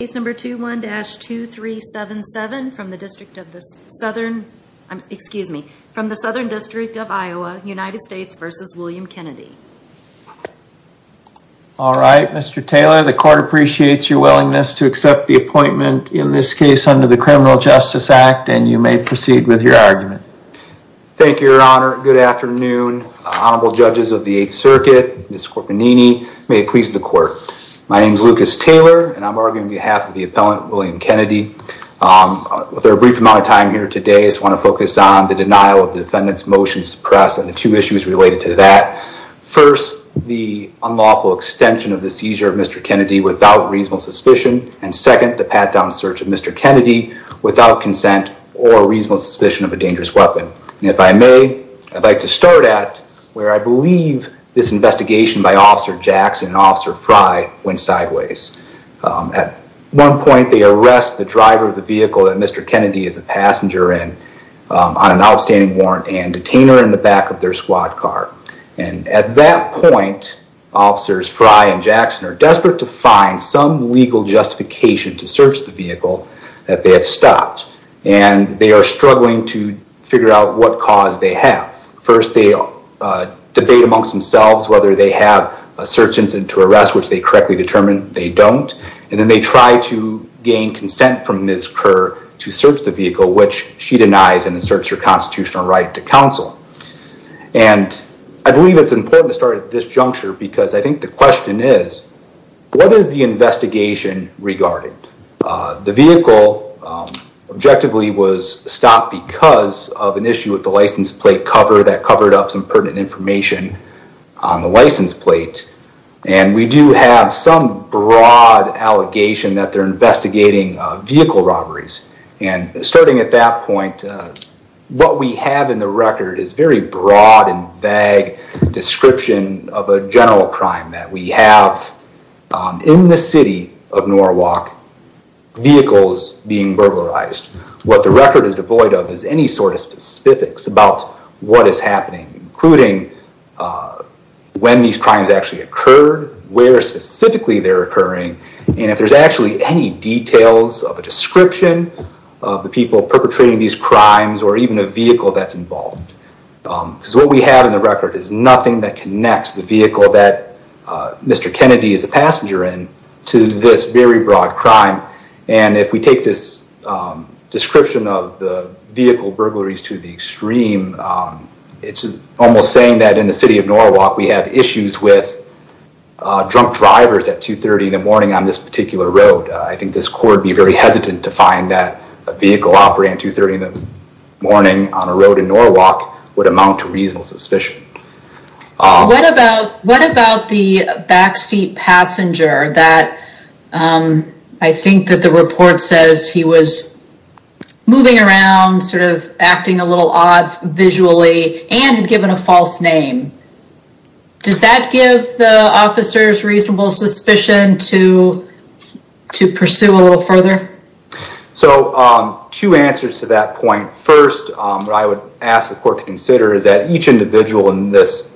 All right, Mr. Taylor, the Court appreciates your willingness to accept the appointment in this case under the Criminal Justice Act, and you may proceed with your argument. Thank you, Your Honor. Good afternoon, Honorable Judges of the Eighth Circuit, Ms. Scorpanini, and may it please the Court. My name is Lucas Taylor, and I'm arguing on behalf of the appellant, William Kennedy. With our brief amount of time here today, I just want to focus on the denial of the defendant's motion to suppress and the two issues related to that. First, the unlawful extension of the seizure of Mr. Kennedy without reasonable suspicion, and second, the pat-down search of Mr. Kennedy without consent or reasonable suspicion of a dangerous weapon. And if I may, I'd like to start at where I believe this investigation by Officer Jackson and Officer Frey went sideways. At one point, they arrest the driver of the vehicle that Mr. Kennedy is a passenger in on an outstanding warrant and detain her in the back of their squad car. And at that point, Officers Frey and Jackson are desperate to find some legal justification to search the vehicle that they have stopped, and they are struggling to figure out what cause they have. First, they debate amongst themselves whether they have a search incident to arrest, which they correctly determine they don't, and then they try to gain consent from Ms. Kerr to search the vehicle, which she denies and asserts her constitutional right to counsel. And I believe it's important to start at this juncture because I think the question is, what is the investigation regarding? The vehicle objectively was stopped because of an issue with the license plate cover that covered up some pertinent information on the license plate, and we do have some broad allegation that they're investigating vehicle robberies. And starting at that point, what we have in the record is very broad and vague description of a general crime, that we have in the city of Norwalk vehicles being burglarized. What the record is devoid of is any sort of specifics about what is happening, including when these crimes actually occurred, where specifically they're occurring, and if there's actually any details of a description of the people perpetrating these crimes or even a vehicle that's involved. Because what we have in the record is nothing that connects the vehicle that Mr. Kennedy is a passenger in to this very broad crime. And if we take this description of the vehicle burglaries to the extreme, it's almost saying that in the city of Norwalk, we have issues with drunk drivers at 2.30 in the morning on this particular road. I think this court would be very hesitant to find that a vehicle operating at 2.30 in the morning on a road in Norwalk would amount to reasonable suspicion. What about the backseat passenger that I think that the report says he was moving around, sort of acting a little odd visually, and had given a false name? Does that give the officers reasonable suspicion to pursue a little further? So two answers to that point. First, what I would ask the court to consider is that each individual in this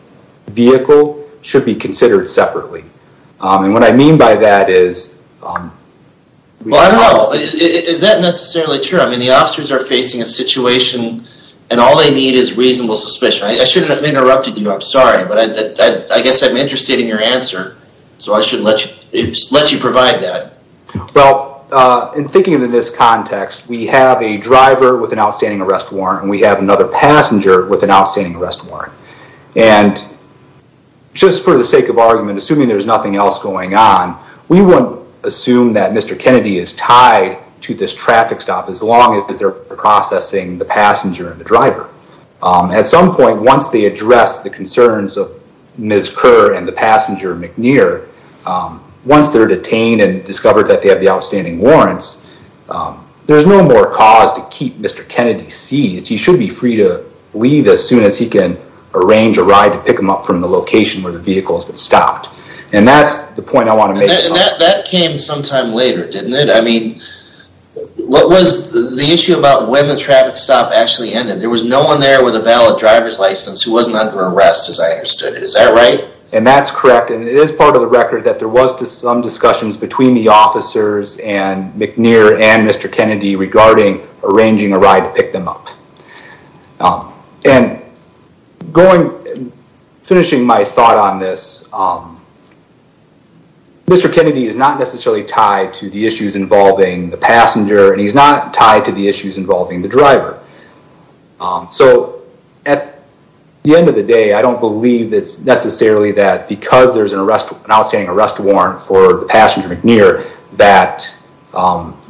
vehicle should be considered separately. And what I mean by that is... Well, I don't know. Is that necessarily true? I mean, the officers are facing a situation and all they need is reasonable suspicion. I shouldn't have interrupted you. I'm sorry, but I guess I'm interested in your answer. So I should let you provide that. Well, in thinking in this context, we have a driver with an outstanding arrest warrant and we have another passenger with an outstanding arrest warrant. And just for the sake of argument, assuming there's nothing else going on, we won't assume that Mr. Kennedy is tied to this traffic stop as long as they're processing the passenger and the driver. At some point, once they address the concerns of Ms. Kerr and the passenger, McNair, once they're detained and discovered that they have the outstanding warrants, there's no more cause to keep Mr. Kennedy seized. He should be free to leave as soon as he can, arrange a ride to pick him up from the location where the vehicle has been stopped. And that's the point I want to make. That came sometime later, didn't it? I mean, what was the issue about when the traffic stop actually ended? There was no one there with a valid driver's license who wasn't under arrest as I understood it. Is that right? And that's correct. And it is part of the record that there was some discussions between the officers and McNair and Mr. Kennedy regarding arranging a ride to pick them up. And finishing my thought on this, Mr. Kennedy is not necessarily tied to the issues involving the passenger and he's not tied to the issues involving the driver. So at the end of the day, I don't believe that it's necessarily that because there's an outstanding arrest warrant for the passenger, McNair, that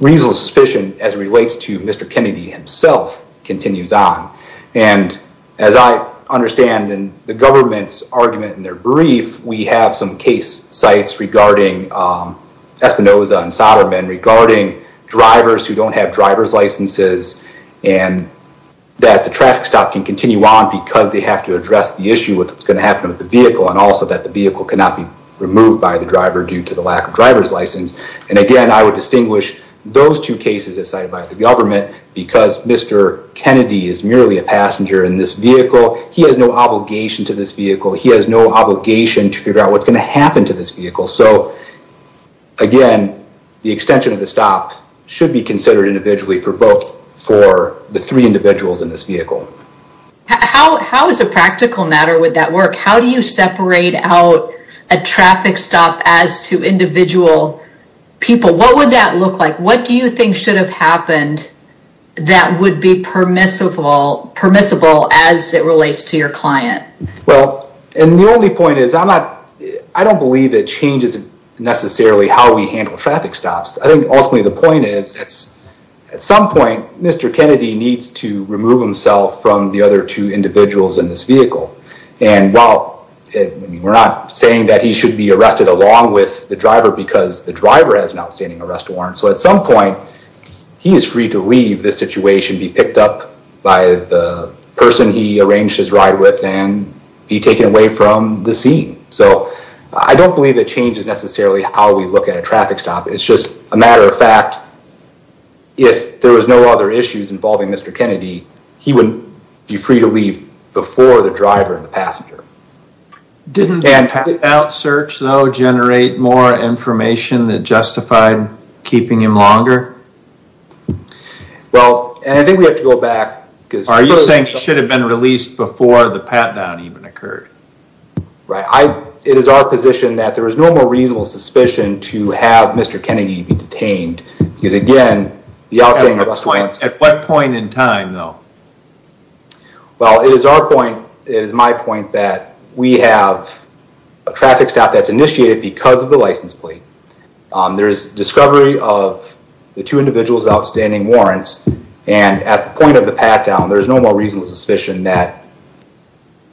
reasonable suspicion as it relates to Mr. Kennedy himself continues on. And as I understand in the government's argument in their brief, we have some case sites regarding Espinosa and Soderman regarding drivers who don't have driver's licenses and the traffic stop can continue on because they have to address the issue with what's going to happen with the vehicle and also that the vehicle cannot be removed by the driver due to the lack of driver's license. And again, I would distinguish those two cases as cited by the government because Mr. Kennedy is merely a passenger in this vehicle. He has no obligation to this vehicle. He has no obligation to figure out what's going to happen to this vehicle. So again, the extension of the stop should be considered individually for both for the three individuals in this vehicle. How is a practical matter with that work? How do you separate out a traffic stop as to individual people? What would that look like? What do you think should have happened that would be permissible as it relates to your client? Well, and the only point is I don't believe it changes necessarily how we handle traffic stops. I think ultimately the point is at some point, Mr. Kennedy needs to remove himself from the other two individuals in this vehicle. And while we're not saying that he should be arrested along with the driver because the driver has an outstanding arrest warrant. So at some point, he is free to leave this situation, be picked up by the person he arranged his ride with and be taken away from the scene. So I don't believe that change is necessarily how we look at a traffic stop. It's just a matter of fact, if there was no other issues involving Mr. Kennedy, he wouldn't be free to leave before the driver and the passenger. Didn't the out search though generate more information that justified keeping him longer? Well, and I think we have to go back Are you saying he should have been released before the pat-down even occurred? Right. It is our position that there is no more reasonable suspicion to have Mr. Kennedy be detained because again, the outstanding arrest warrants. At what point in time though? Well, it is our point, it is my point, that we have a traffic stop that's initiated because of the license plate. There's discovery of the two of the pat-down. There's no more reasonable suspicion that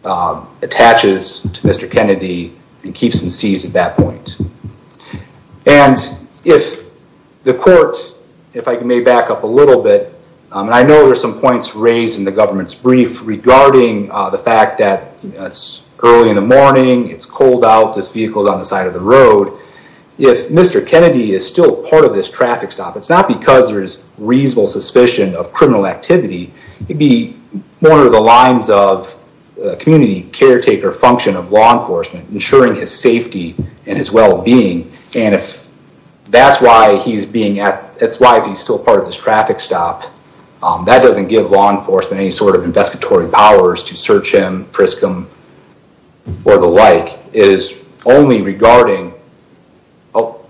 attaches to Mr. Kennedy and keeps him seized at that point. And if the court, if I may back up a little bit, and I know there's some points raised in the government's brief regarding the fact that it's early in the morning, it's cold out, this vehicle's on the side of the road. If Mr. Kennedy is still part of this traffic stop, it's not because there's reasonable suspicion of criminal activity. It'd be more under the lines of community caretaker function of law enforcement, ensuring his safety and his well-being. And if that's why he's being at, that's why he's still part of this traffic stop, that doesn't give law enforcement any sort of investigatory powers to search him, frisk him, or the like. It is only regarding, oh,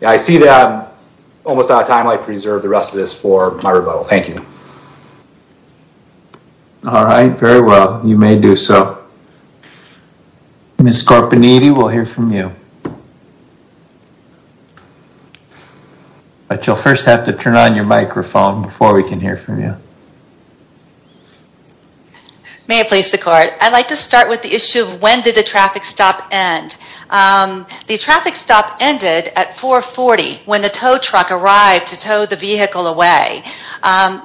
yeah, I see that I'm almost out of time. I'd like to reserve the rest of this for my rebuttal. Thank you. All right. Very well. You may do so. Ms. Scarpinetti, we'll hear from you. But you'll first have to turn on your microphone before we can hear from you. May I please the court? I'd like to start with the issue of when did the traffic stop end? The traffic stop ended at 440 when the tow truck arrived to tow the vehicle away.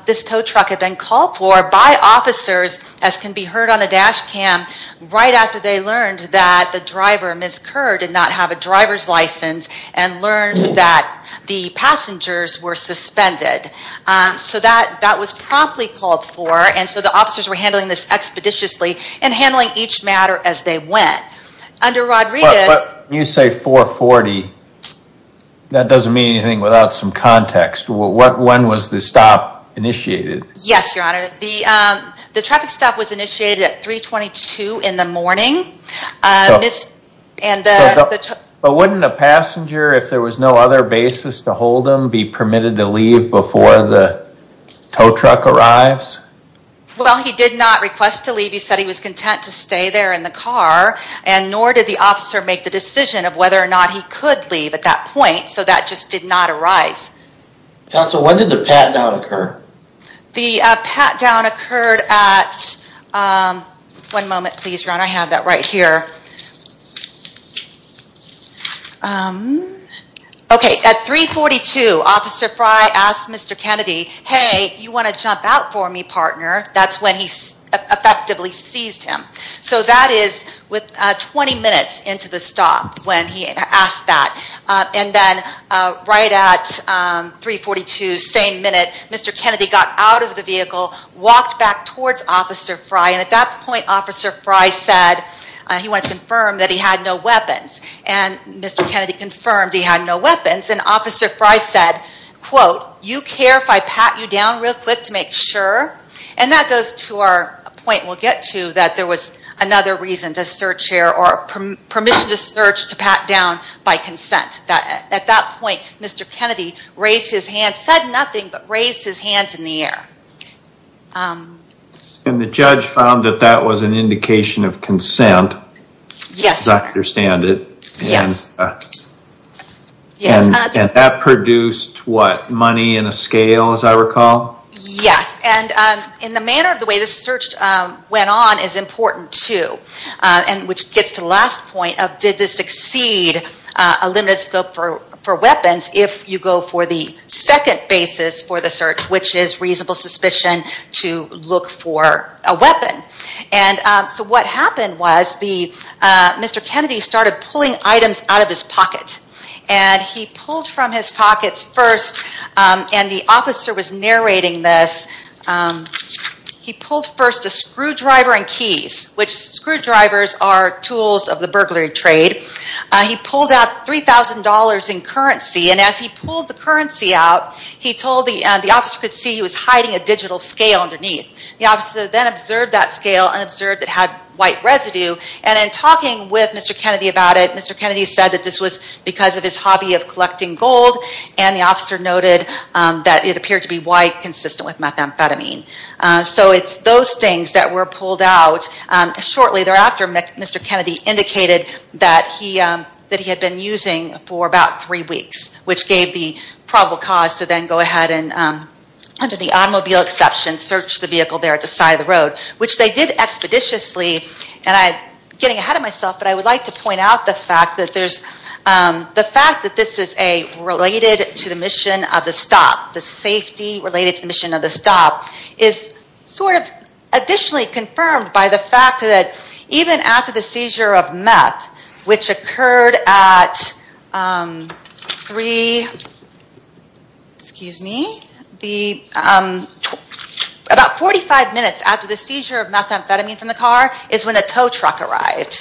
This tow truck had been called for by officers, as can be heard on the dash cam, right after they learned that the driver, Ms. Kerr, did not have a driver's license and learned that the passengers were suspended. So that was promptly called for, and so the officers were under Rodriguez. When you say 440, that doesn't mean anything without some context. When was the stop initiated? Yes, Your Honor. The traffic stop was initiated at 322 in the morning. But wouldn't a passenger, if there was no other basis to hold him, be permitted to leave before the tow truck arrives? Well, he did not request to leave. He said he was content to leave, and nor did the officer make the decision of whether or not he could leave at that point. So that just did not arise. Counsel, when did the pat-down occur? The pat-down occurred at, one moment please, Ron. I have that right here. Okay, at 342, Officer Fry asked Mr. Kennedy, hey, you want to jump out for me, partner? That's when he effectively seized him. So that is 20 minutes into the stop when he asked that. And then right at 342, same minute, Mr. Kennedy got out of the vehicle, walked back towards Officer Fry, and at that point, Officer Fry said he wanted to confirm that he had no weapons. And Mr. Kennedy confirmed he had no weapons and said, quote, you care if I pat you down real quick to make sure? And that goes to our point we'll get to, that there was another reason to search here, or permission to search to pat down by consent. At that point, Mr. Kennedy raised his hand, said nothing, but raised his hands in the air. And the judge found that that was an indication of consent? Yes. Does that produce, what, money in a scale, as I recall? Yes, and in the manner of the way this search went on is important too. And which gets to the last point of did this exceed a limited scope for weapons if you go for the second basis for the search, which is reasonable suspicion to look for a weapon. And so what happened was the, Mr. Kennedy started pulling items out of his pocket. And he pulled from his pockets first, and the officer was narrating this, he pulled first a screwdriver and keys, which, screwdrivers are tools of the burglary trade. He pulled out $3,000 in currency, and as he pulled the currency out, he told the, the officer could see he was hiding a digital scale underneath. The officer then observed that scale and observed it had white residue, and in talking with Mr. Kennedy about it, Mr. Kennedy said that this was because of his hobby of collecting gold, and the officer noted that it appeared to be white, consistent with methamphetamine. So it's those things that were pulled out. Shortly thereafter, Mr. Kennedy indicated that he had been using for about three weeks, which gave the probable cause to then go ahead and, under the automobile exception, search the vehicle there at the side of the road, which they did expeditiously. And I'm getting ahead of myself, but I would like to point out the fact that there's, the fact that this is a, related to the mission of the stop, the safety related to the mission of the stop, is sort of additionally confirmed by the fact that even after the seizure of meth, which occurred at three, excuse me, the, about 45 minutes after the seizure of methamphetamine from the car, is when a tow truck arrived.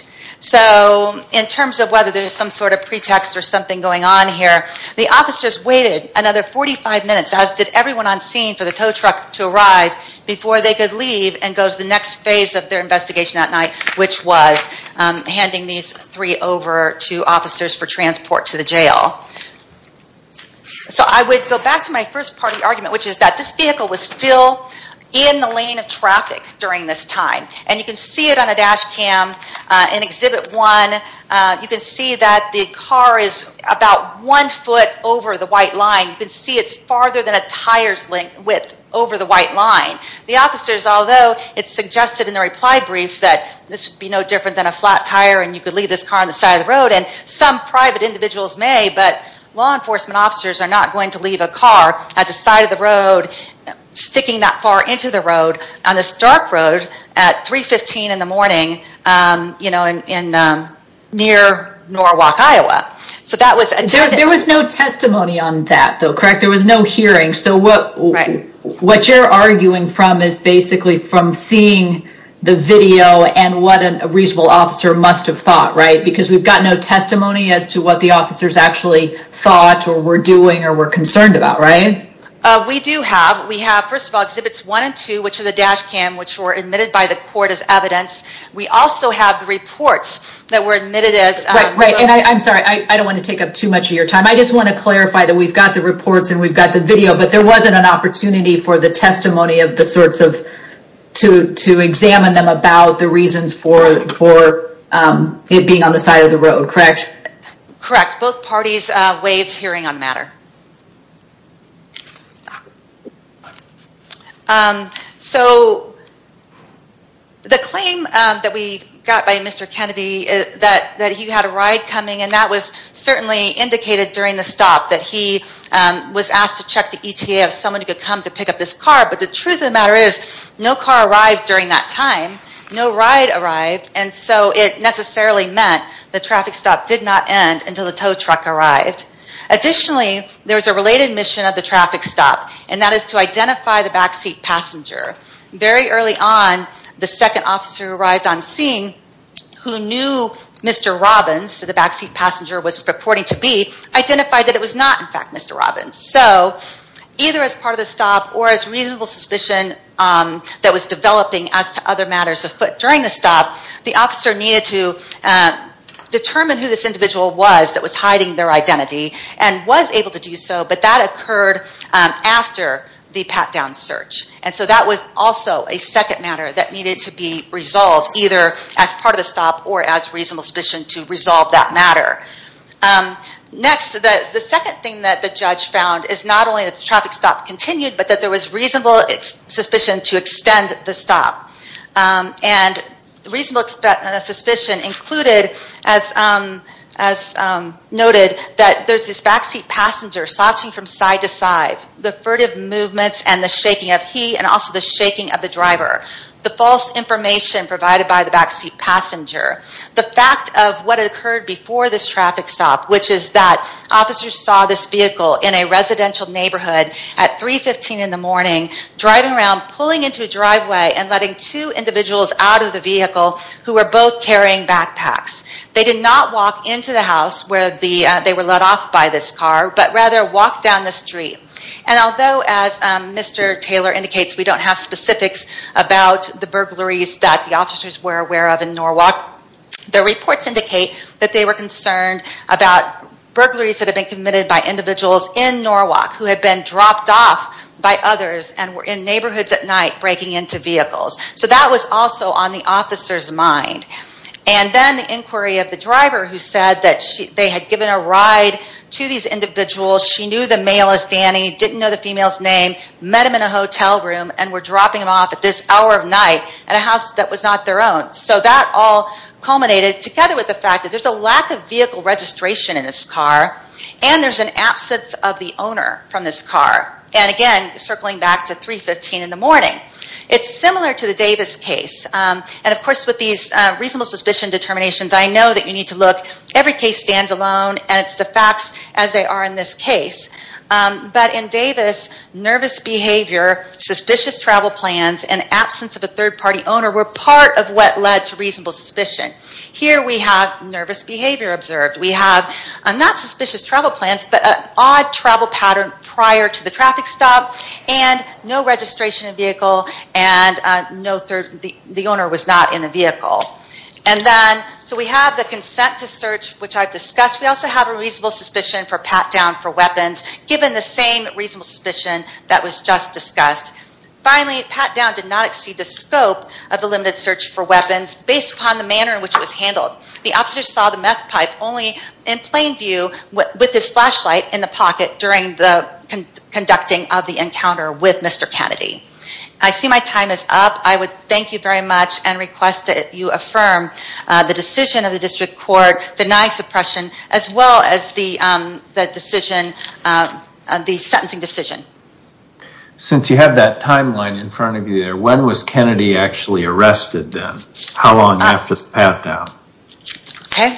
So, in terms of whether there's some sort of pretext or something going on here, the officers waited another 45 minutes, as did everyone on scene, for the tow truck to arrive before they could leave and go to the next phase of their investigation that night, which was handing these three over to officers for transport to the jail. So I would go back to my first part of the argument, which is that this vehicle was still in the lane of traffic during this time, and you can see it on a map that the car is about one foot over the white line. You can see it's farther than a tire's width over the white line. The officers, although, it's suggested in the reply brief that this would be no different than a flat tire and you could leave this car on the side of the road, and some private individuals may, but law enforcement officers are not going to leave a car at the side of the road, sticking that far into the road, on this dark road at 3.15 in the morning, you know, near Norwalk, Iowa. There was no testimony on that, though, correct? There was no hearing, so what you're arguing from is basically from seeing the video and what a reasonable officer must have thought, right? Because we've got no testimony as to what the officers actually thought or were doing or were concerned about, right? We do have. We have, first of all, Exhibits 1 and 2, which are the dash cam, which were admitted by the court as evidence. We also have the reports that were admitted as... Right, right, and I'm sorry, I don't want to take up too much of your time. I just want to clarify that we've got the reports and we've got the video, but there wasn't an opportunity for the testimony of the sorts to examine them about the reasons for it being on the side of the road, correct? Correct. Both parties waived hearing on the matter. So, the claim that we got by Mr. Kennedy is that he had a ride coming and that was certainly indicated during the stop that he was asked to check the ETA of someone who could come to pick up this car, but the truth of the matter is, no car arrived during that time, no ride arrived, and so it necessarily meant the traffic stop did not end until the tow truck arrived. Additionally, there was a related mission of the traffic stop, and that is to identify the backseat passenger. Very early on, the second officer who arrived on scene, who knew Mr. Robbins, the backseat passenger was purporting to be, identified that it was not, in fact, Mr. Robbins. So, either as part of the stop or as reasonable suspicion that was developing as to other matters afoot during the stop, the officer needed to determine who this individual was that was hiding their identity, and was able to do so, but that occurred after the pat-down search. And so that was also a second matter that needed to be resolved, either as part of the stop or as reasonable suspicion to resolve that matter. Next, the second thing that the judge found is not only that the traffic stop continued, but that there was reasonable suspicion to extend the stop. And reasonable suspicion included, as noted, that there's this backseat passenger slouching from side to side, the furtive movements and the shaking of he, and also the shaking of the driver. The false information provided by the backseat passenger. The fact of what occurred before this traffic stop, which is that officers saw this vehicle in a residential neighborhood at 3.15 in the morning, driving around, pulling into a driveway, and letting two individuals out of the vehicle who were both carrying backpacks. They did not walk into the house where they were let off by this car, but rather walked down the street. And although, as Mr. Taylor indicates, we don't have specifics about the burglaries that the officers were aware of in Norwalk, the reports indicate that they were concerned about burglaries that had been committed by individuals in Norwalk who had been dropped off by others and were in neighborhoods at night breaking into vehicles. So that was also on the officer's mind. And then the inquiry of the driver who said that they had given a ride to these individuals, she knew the male as Danny, didn't know the female's name, met him in a hotel room, and were dropping him off at this hour of night at a house that was not their own. So that all culminated together with the fact that there's a lack of vehicle registration in this car, and there's an absence of the owner from this car. And again, circling back to 3.15 in the morning. Again, it's similar to the Davis case. And of course, with these reasonable suspicion determinations, I know that you need to look. Every case stands alone, and it's the facts as they are in this case. But in Davis, nervous behavior, suspicious travel plans, and absence of a third-party owner were part of what led to reasonable suspicion. Here we have nervous behavior observed. We have not suspicious travel plans, but an odd travel pattern prior to the traffic stop, and no registration of vehicle, and the owner was not in the vehicle. And then, so we have the consent to search, which I've discussed. We also have a reasonable suspicion for pat-down for weapons, given the same reasonable suspicion that was just discussed. Finally, pat-down did not exceed the scope of the limited search for weapons, based upon the manner in which it was handled. The officer saw the meth pipe only in plain view with his flashlight in the pocket during the conducting of the encounter with Mr. Kennedy. I see my time is up. I would thank you very much and request that you affirm the decision of the District Court denying suppression, as well as the decision, the sentencing decision. Since you have that timeline in front of you there, when was Kennedy actually arrested then? How long after the pat-down? Okay,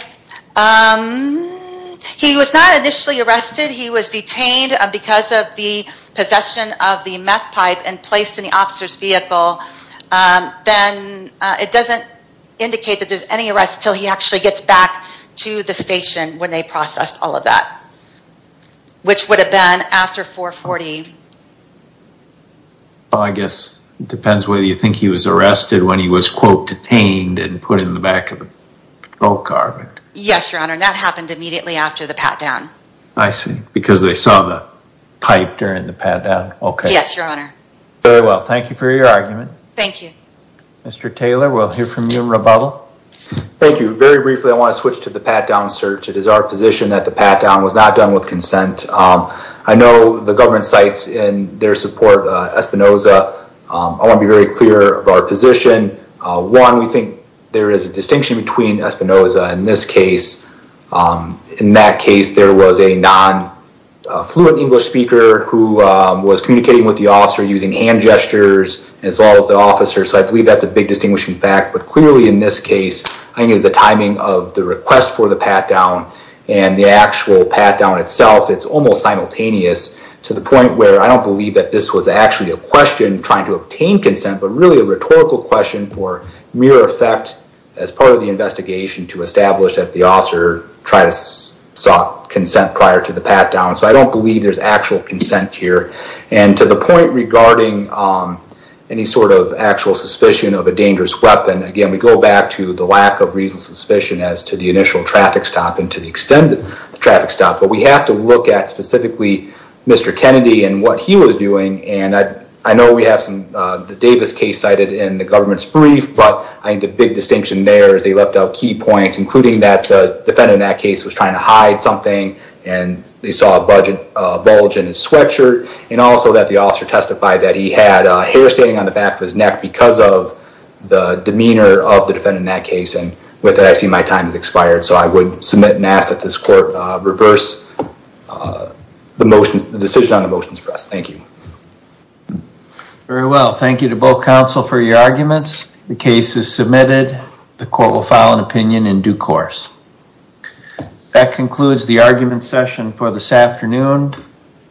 he was not initially arrested. He was detained because of the possession of the meth pipe and placed in the officer's vehicle. Then, it doesn't indicate that there's any arrest until he actually gets back to the station when they processed all of that, which would have been after 440. Well, I guess it depends whether you think he was arrested when he was, quote, detained and put in the back of an old car. Yes, Your Honor, and that happened immediately after the pat-down. I see, because they saw the pipe during the pat-down. Yes, Your Honor. Very well, thank you for your argument. Thank you. Mr. Taylor, we'll hear from you in rebuttal. Thank you. Very briefly, I want to switch to the pat-down search. It is our position that the pat-down was not done with consent. I know the government cites in their support Espinoza. I want to be very clear of our position. One, we think there is a distinction between Espinoza in this case. In that case, there was a non-fluent English speaker who was communicating with the officer using hand gestures as well as the officer. So, I believe that's a big distinguishing fact. But clearly, in this case, I think it's the timing of the request for the pat-down and the actual pat-down itself. It's almost simultaneous to the point where I don't believe that this was actually a question trying to obtain consent, but really a rhetorical question for mere effect as part of the investigation to establish that the officer sought consent prior to the pat-down. So, I don't believe there's actual consent here. And to the point regarding any sort of actual suspicion of a dangerous weapon, again, we go back to the lack of reasonable suspicion as to the initial traffic stop and to the extended traffic stop. But we have to look at specifically Mr. Kennedy and what he was doing. And I know we have the Davis case cited in the government's brief, but I think the big distinction there is they left out key points, including that the defendant in that case was trying to hide something, and they saw a bulge in his sweatshirt, and also that the officer testified that he had hair standing on the back of his neck because of the demeanor of the defendant in that case. And with that, I see my time has expired. So, I would submit and ask that this court reverse the decision on the motion to press. Thank you. Very well. Thank you to both counsel for your arguments. The case is submitted. The court will file an opinion in due course. That concludes the argument session for this afternoon.